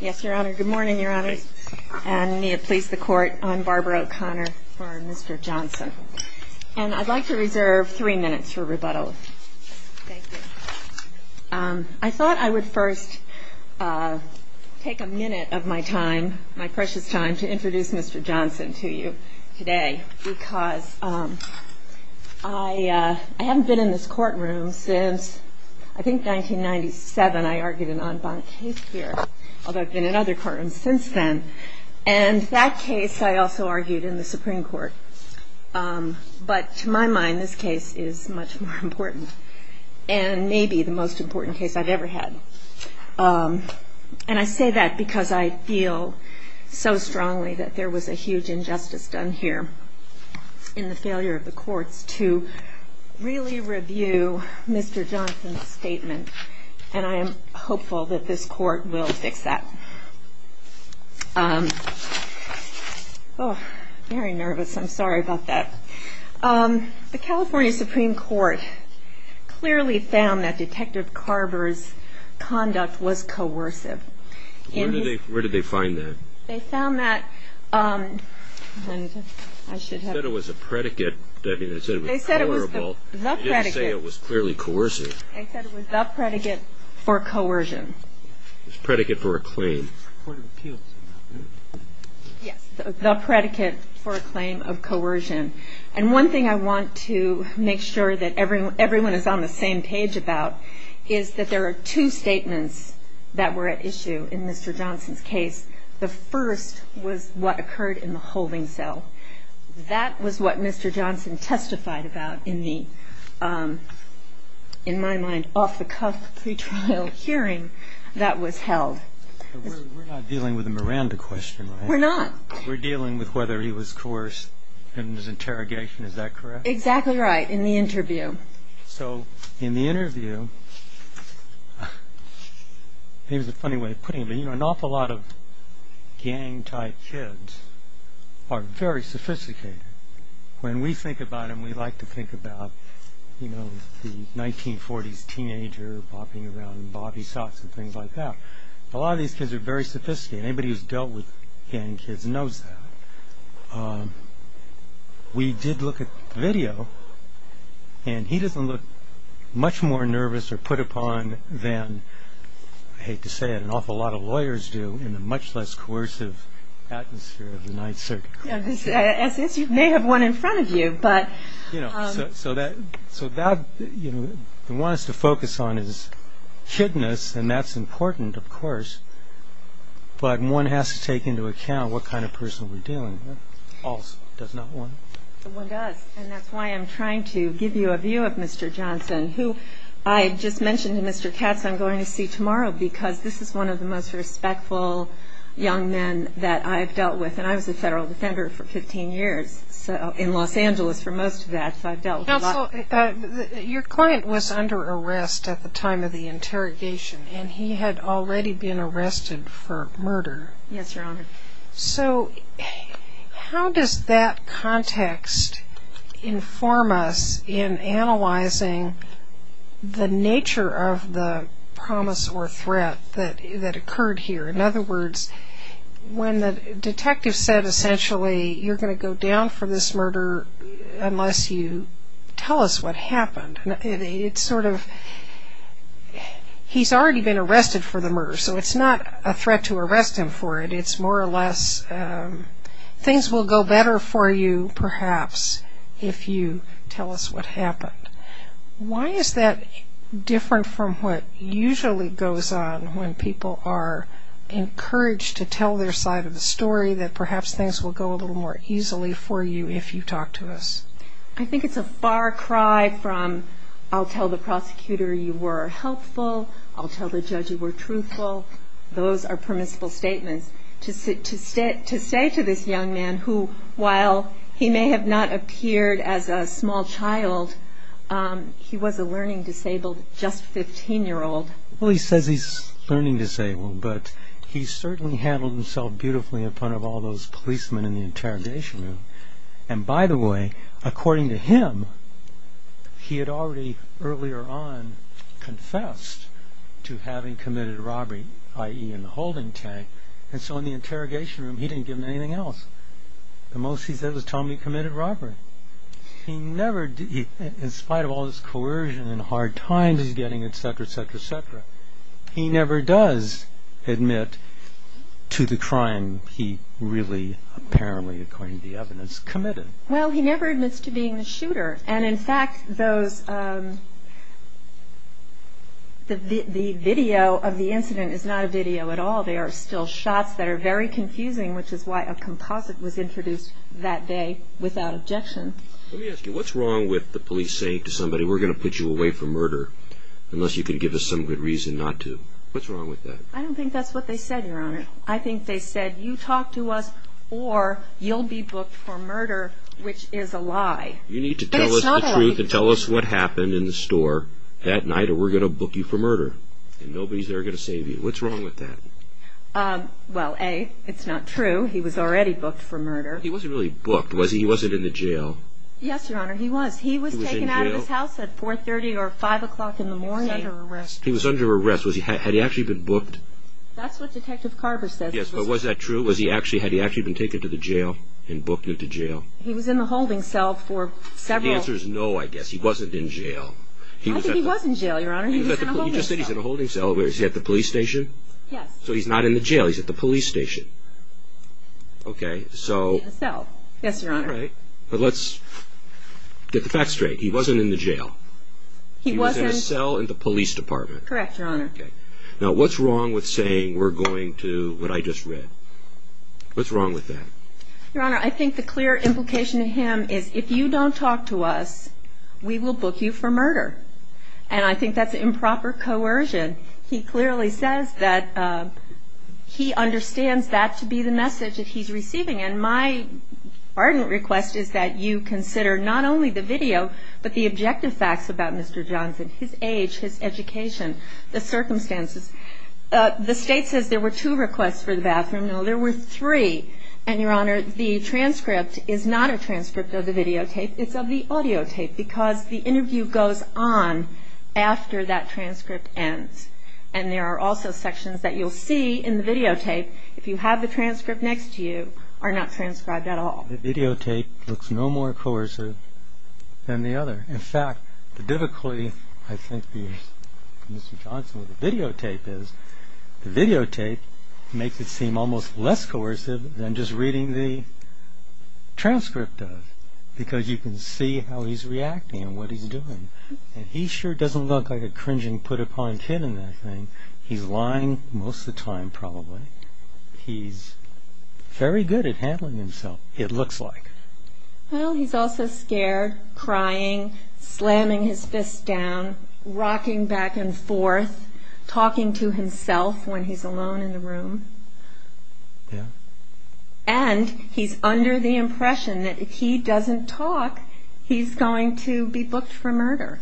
Yes, Your Honor. Good morning, Your Honors. And may it please the Court, I'm Barbara O'Connor for Mr. Johnson. And I'd like to reserve three minutes for rebuttal. Thank you. I thought I would first take a minute of my time, my precious time, to introduce Mr. Johnson to you today, because I haven't been in this courtroom since, I think, 1997, I argued an en banc case here. Although I've been in other courtrooms since then. And that case I also argued in the Supreme Court. But to my mind, this case is much more important, and maybe the most important case I've ever had. And I say that because I feel so strongly that there was a huge injustice done here in the failure of the courts to really review Mr. Johnson's statement. And I am hopeful that this Court will fix that. Oh, very nervous. I'm sorry about that. The California Supreme Court clearly found that Detective Carver's conduct was coercive. Where did they find that? They found that... They said it was a predicate. They said it was the predicate. They didn't say it was clearly coercive. They said it was the predicate for coercion. It's a predicate for a claim. Yes, the predicate for a claim of coercion. And one thing I want to make sure that everyone is on the same page about is that there are two statements that were at issue in Mr. Johnson's case. The first was what occurred in the holding cell. That was what Mr. Johnson testified about in the, in my mind, off-the-cuff pretrial hearing that was held. We're not dealing with a Miranda question, are we? We're not. We're dealing with whether he was coerced in his interrogation, is that correct? Exactly right, in the interview. So, in the interview, here's a funny way of putting it, but you know, an awful lot of gang-type kids are very sophisticated. When we think about them, we like to think about, you know, the 1940s teenager bopping around in bobby socks and things like that. A lot of these kids are very sophisticated. Anybody who's dealt with gang kids knows that. We did look at the video, and he doesn't look much more nervous or put upon than, I hate to say it, an awful lot of lawyers do in the much less coercive atmosphere of the Ninth Circuit. As is, you may have one in front of you, but... You know, so that, you know, the one that's to focus on is kidness, and that's important, of course, but one has to take into account what kind of person we're dealing with. All does not want... No one does, and that's why I'm trying to give you a view of Mr. Johnson, who I just mentioned to Mr. Katz I'm going to see tomorrow because this is one of the most respectful young men that I've dealt with, and I was a federal defender for 15 years in Los Angeles for most of that, so I've dealt with a lot. Counsel, your client was under arrest at the time of the interrogation, and he had already been arrested for murder. Yes, Your Honor. So how does that context inform us in analyzing the nature of the promise or threat that occurred here? In other words, when the detective said, essentially, you're going to go down for this murder unless you tell us what happened, it's sort of... He's already been arrested for the murder, so it's not a threat to arrest him for it. It's more or less things will go better for you, perhaps, if you tell us what happened. Why is that different from what usually goes on when people are encouraged to tell their side of the story, that perhaps things will go a little more easily for you if you talk to us? I think it's a far cry from, I'll tell the prosecutor you were helpful, I'll tell the judge you were truthful. Those are permissible statements. To say to this young man who, while he may have not appeared as a small child, he was a learning disabled just 15-year-old. Well, he says he's learning disabled, but he certainly handled himself beautifully in front of all those policemen in the interrogation room. And by the way, according to him, he had already earlier on confessed to having committed a robbery, i.e. in the holding tank, and so in the interrogation room he didn't give them anything else. The most he said was, Tom, you committed robbery. He never, in spite of all this coercion and hard times he's getting, etc., etc., etc., he never does admit to the crime he really, apparently, according to the evidence, committed. Well, he never admits to being the shooter, and in fact the video of the incident is not a video at all. There are still shots that are very confusing, which is why a composite was introduced that day without objection. Let me ask you, what's wrong with the police saying to somebody, we're going to put you away for murder unless you can give us some good reason not to? What's wrong with that? I don't think that's what they said, Your Honor. I think they said, you talk to us or you'll be booked for murder, which is a lie. You need to tell us the truth and tell us what happened in the store that night or we're going to book you for murder, and nobody's there going to save you. What's wrong with that? Well, A, it's not true. He was already booked for murder. He wasn't really booked, was he? He wasn't in the jail? Yes, Your Honor, he was. He was taken out of his house at 4.30 or 5 o'clock in the morning. He was under arrest. He was under arrest. Had he actually been booked? That's what Detective Carver says. Yes, but was that true? Had he actually been taken to the jail and booked into jail? He was in the holding cell for several... The answer is no, I guess. He wasn't in jail. I think he was in jail, Your Honor. He was in a holding cell. You just said he was in a holding cell. Was he at the police station? Yes. So he's not in the jail. He's at the police station. Okay, so... He was in a cell. Yes, Your Honor. All right, but let's get the facts straight. He wasn't in the jail. He was in... He was in a cell in the police department. Correct, Your Honor. Now, what's wrong with saying we're going to what I just read? What's wrong with that? Your Honor, I think the clear implication to him is if you don't talk to us, we will book you for murder. And I think that's improper coercion. He clearly says that he understands that to be the message that he's receiving. And my ardent request is that you consider not only the video, but the objective facts about Mr. Johnson, his age, his education, the circumstances. The State says there were two requests for the bathroom. No, there were three. And, Your Honor, the transcript is not a transcript of the videotape. It's of the audiotape because the interview goes on after that transcript ends. And there are also sections that you'll see in the videotape, if you have the transcript next to you, are not transcribed at all. The videotape looks no more coercive than the other. In fact, the difficulty, I think, with Mr. Johnson with the videotape is the videotape makes it seem almost less coercive than just reading the transcript of because you can see how he's reacting and what he's doing. And he sure doesn't look like a cringing, put-upon kid in that thing. He's lying most of the time, probably. He's very good at handling himself, it looks like. Well, he's also scared, crying, slamming his fists down, rocking back and forth, talking to himself when he's alone in the room. Yeah. And he's under the impression that if he doesn't talk, he's going to be booked for murder.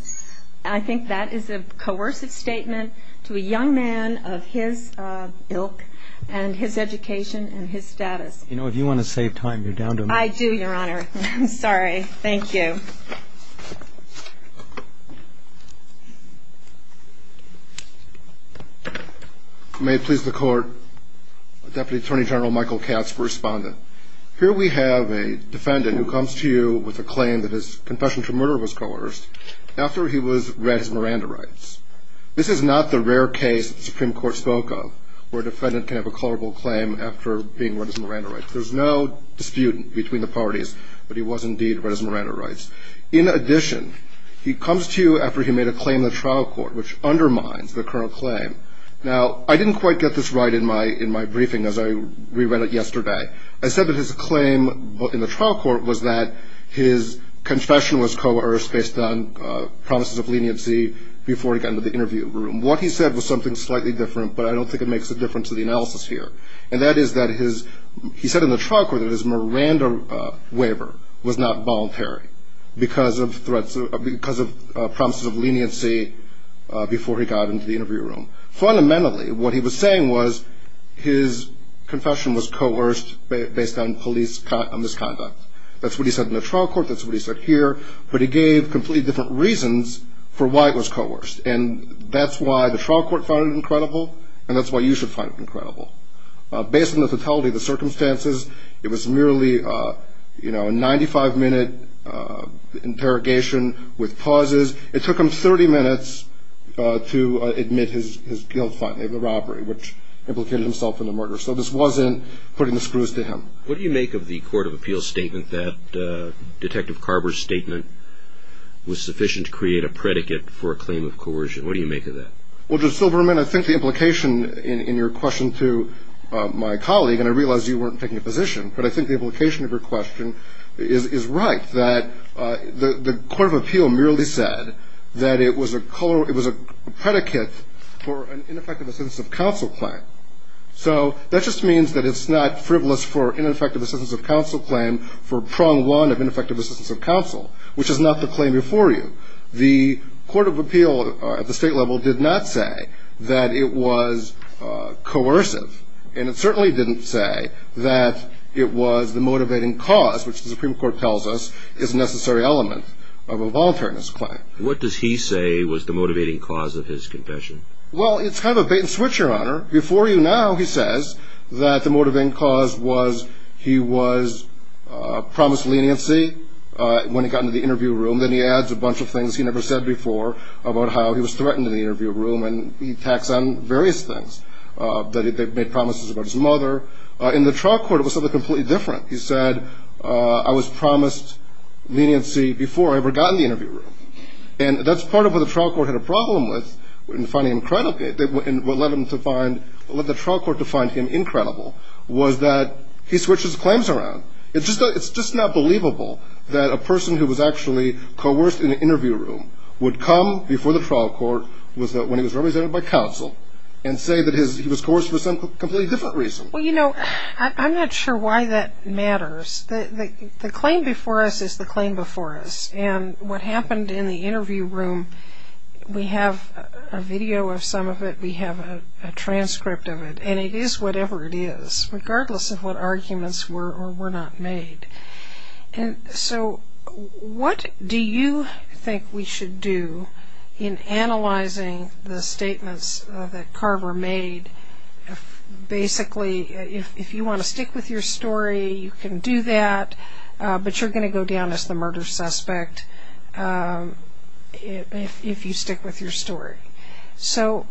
I think that is a coercive statement to a young man of his ilk and his education and his status. You know, if you want to save time, you're down to a minute. I do, Your Honor. I'm sorry. Thank you. May it please the Court. Deputy Attorney General Michael Katz for Respondent. Here we have a defendant who comes to you with a claim that his confession for murder was colorist after he was read his Miranda rights. This is not the rare case that the Supreme Court spoke of where a defendant can have a colorable claim after being read his Miranda rights. There's no dispute between the parties, but he was indeed read his Miranda rights. In addition, he comes to you after he made a claim in the trial court, which undermines the current claim. Now, I didn't quite get this right in my briefing as I re-read it yesterday. I said that his claim in the trial court was that his confession was coerced based on promises of leniency before he got into the interview room. What he said was something slightly different, but I don't think it makes a difference to the analysis here. And that is that he said in the trial court that his Miranda waiver was not voluntary because of promises of leniency before he got into the interview room. Fundamentally, what he was saying was his confession was coerced based on police misconduct. That's what he said in the trial court. That's what he said here. But he gave completely different reasons for why it was coerced, and that's why the trial court found it incredible, and that's why you should find it incredible. Based on the totality of the circumstances, it was merely a 95-minute interrogation with pauses. It took him 30 minutes to admit his guilt of the robbery, which implicated himself in the murder. So this wasn't putting the screws to him. What do you make of the court of appeals statement that Detective Carver's statement was sufficient to create a predicate for a claim of coercion? What do you make of that? Well, Judge Silberman, I think the implication in your question to my colleague, and I realize you weren't taking a position, but I think the implication of your question is right, that the court of appeal merely said that it was a predicate for an ineffective assistance of counsel claim. So that just means that it's not frivolous for ineffective assistance of counsel claim for prong one of ineffective assistance of counsel, which is not the claim before you. The court of appeal at the state level did not say that it was coercive, and it certainly didn't say that it was the motivating cause, which the Supreme Court tells us is a necessary element of a voluntariness claim. What does he say was the motivating cause of his confession? Well, it's kind of a bait-and-switch, Your Honor. Before you now, he says that the motivating cause was he was promised leniency when he got into the interview room. Then he adds a bunch of things he never said before about how he was threatened in the interview room, and he attacks on various things, that they've made promises about his mother. In the trial court, it was something completely different. He said, I was promised leniency before I ever got in the interview room, and that's part of what the trial court had a problem with in finding him a predicate. What led the trial court to find him incredible was that he switches claims around. It's just not believable that a person who was actually coerced in an interview room would come before the trial court when he was represented by counsel and say that he was coerced for some completely different reason. Well, you know, I'm not sure why that matters. The claim before us is the claim before us, and what happened in the interview room, we have a video of some of it. We have a transcript of it, and it is whatever it is, regardless of what arguments were or were not made. So what do you think we should do in analyzing the statements that Carver made? Basically, if you want to stick with your story, you can do that, but you're going to go down as the murder suspect if you stick with your story. So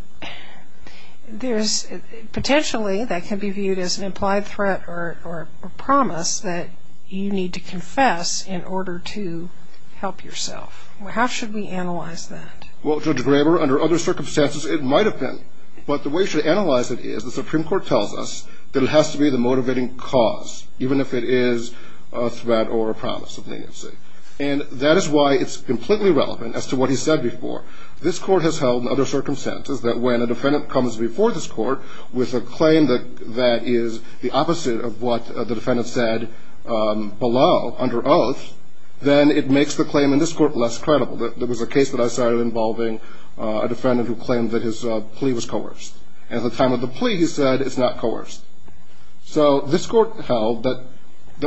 potentially that can be viewed as an implied threat or promise that you need to confess in order to help yourself. How should we analyze that? Well, Judge Graber, under other circumstances it might have been, but the way you should analyze it is the Supreme Court tells us that it has to be the motivating cause, even if it is a threat or a promise of leniency. And that is why it's completely relevant as to what he said before. This Court has held under other circumstances that when a defendant comes before this Court with a claim that is the opposite of what the defendant said below, under oath, then it makes the claim in this Court less credible. There was a case that I cited involving a defendant who claimed that his plea was coerced. At the time of the plea, he said it's not coerced. So this Court held that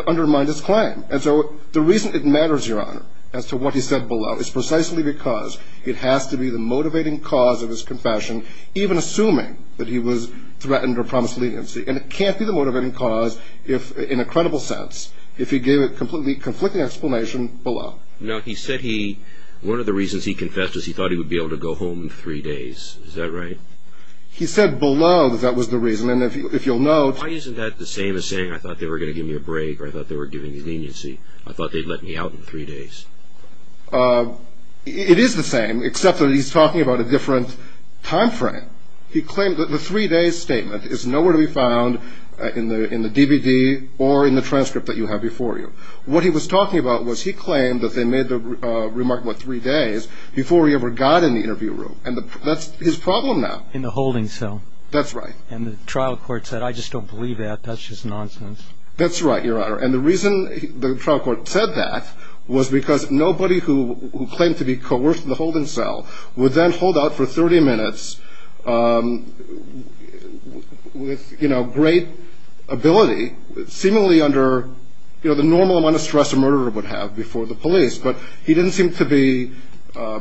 undermined his claim. And so the reason it matters, Your Honor, as to what he said below, is precisely because it has to be the motivating cause of his confession, even assuming that he was threatened or promised leniency. And it can't be the motivating cause in a credible sense if he gave a completely conflicting explanation below. Now, he said one of the reasons he confessed is he thought he would be able to go home in three days. Is that right? He said below that that was the reason. And if you'll note— Why isn't that the same as saying I thought they were going to give me a break or I thought they were giving me leniency, I thought they'd let me out in three days? It is the same, except that he's talking about a different time frame. He claimed that the three-day statement is nowhere to be found in the DVD or in the transcript that you have before you. What he was talking about was he claimed that they made the remark, what, three days, before he ever got in the interview room. And that's his problem now. In the holding cell. That's right. And the trial court said, I just don't believe that. That's just nonsense. That's right, Your Honor. And the reason the trial court said that was because nobody who claimed to be coerced into the holding cell would then hold out for 30 minutes with great ability, seemingly under the normal amount of stress a murderer would have before the police. But he didn't seem to be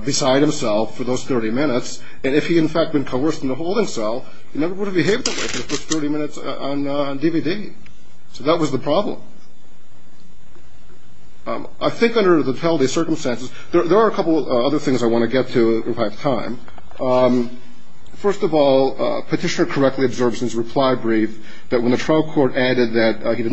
beside himself for those 30 minutes. And if he, in fact, had been coerced into the holding cell, he never would have behaved that way for the first 30 minutes on DVD. So that was the problem. I think under the Tellday circumstances, there are a couple of other things I want to get to if I have time. First of all, Petitioner correctly observed since reply brief that when the trial court added that he did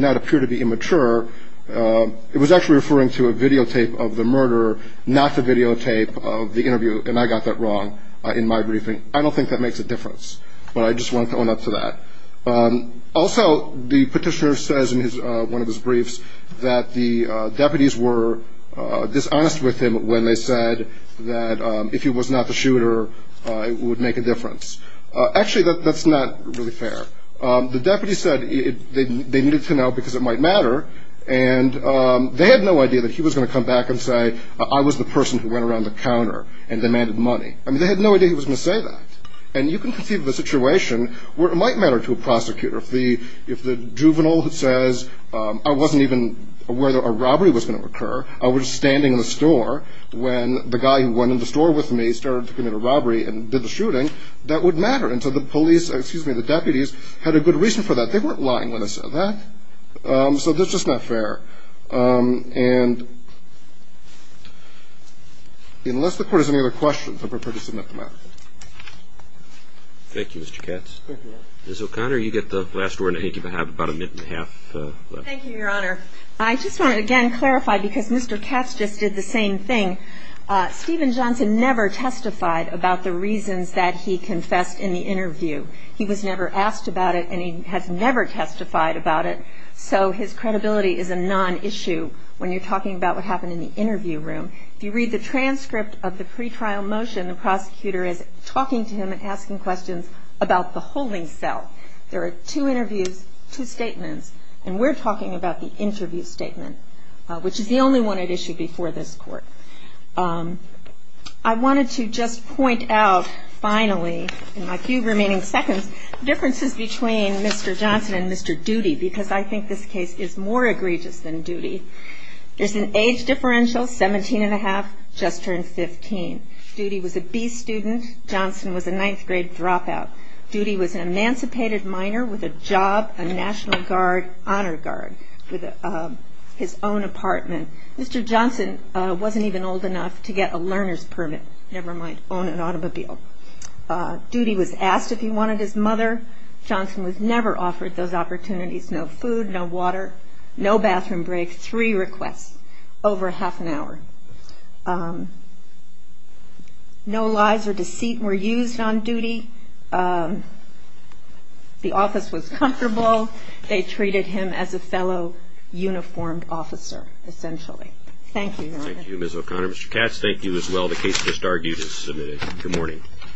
not appear to be immature, it was actually referring to a videotape of the murder, not the videotape of the interview. And I got that wrong in my briefing. I don't think that makes a difference, but I just wanted to own up to that. Also, the Petitioner says in one of his briefs that the deputies were dishonest with him when they said that if he was not the shooter, it would make a difference. Actually, that's not really fair. The deputies said they needed to know because it might matter, and they had no idea that he was going to come back and say I was the person who went around the counter and demanded money. I mean, they had no idea he was going to say that. And you can conceive of a situation where it might matter to a prosecutor. If the juvenile says I wasn't even aware that a robbery was going to occur, I was standing in the store when the guy who went in the store with me started to commit a robbery and did the shooting, that would matter. And so the police, excuse me, the deputies had a good reason for that. They weren't lying when they said that. So that's just not fair. And unless the Court has any other questions, I'm prepared to submit the matter. Thank you, Mr. Katz. Thank you, Your Honor. Ms. O'Connor, you get the last word, and I think you have about a minute and a half left. Thank you, Your Honor. I just want to again clarify because Mr. Katz just did the same thing. Stephen Johnson never testified about the reasons that he confessed in the interview. He was never asked about it, and he has never testified about it. So his credibility is a non-issue when you're talking about what happened in the interview room. If you read the transcript of the pretrial motion, the prosecutor is talking to him and asking questions about the holding cell. There are two interviews, two statements, and we're talking about the interview statement, which is the only one at issue before this Court. I wanted to just point out finally, in my few remaining seconds, differences between Mr. Johnson and Mr. Doody because I think this case is more egregious than Doody. There's an age differential, 17 and a half, just turned 15. Doody was a B student. Johnson was a ninth-grade dropout. Doody was an emancipated minor with a job, a National Guard Honor Guard with his own apartment. Mr. Johnson wasn't even old enough to get a learner's permit, never mind own an automobile. Doody was asked if he wanted his mother. Johnson was never offered those opportunities, no food, no water, no bathroom break, three requests over half an hour. No lies or deceit were used on Doody. The office was comfortable. They treated him as a fellow uniformed officer, essentially. Thank you, Your Honor. Thank you, Ms. O'Connor. Mr. Katz, thank you as well. The case is submitted. Good morning.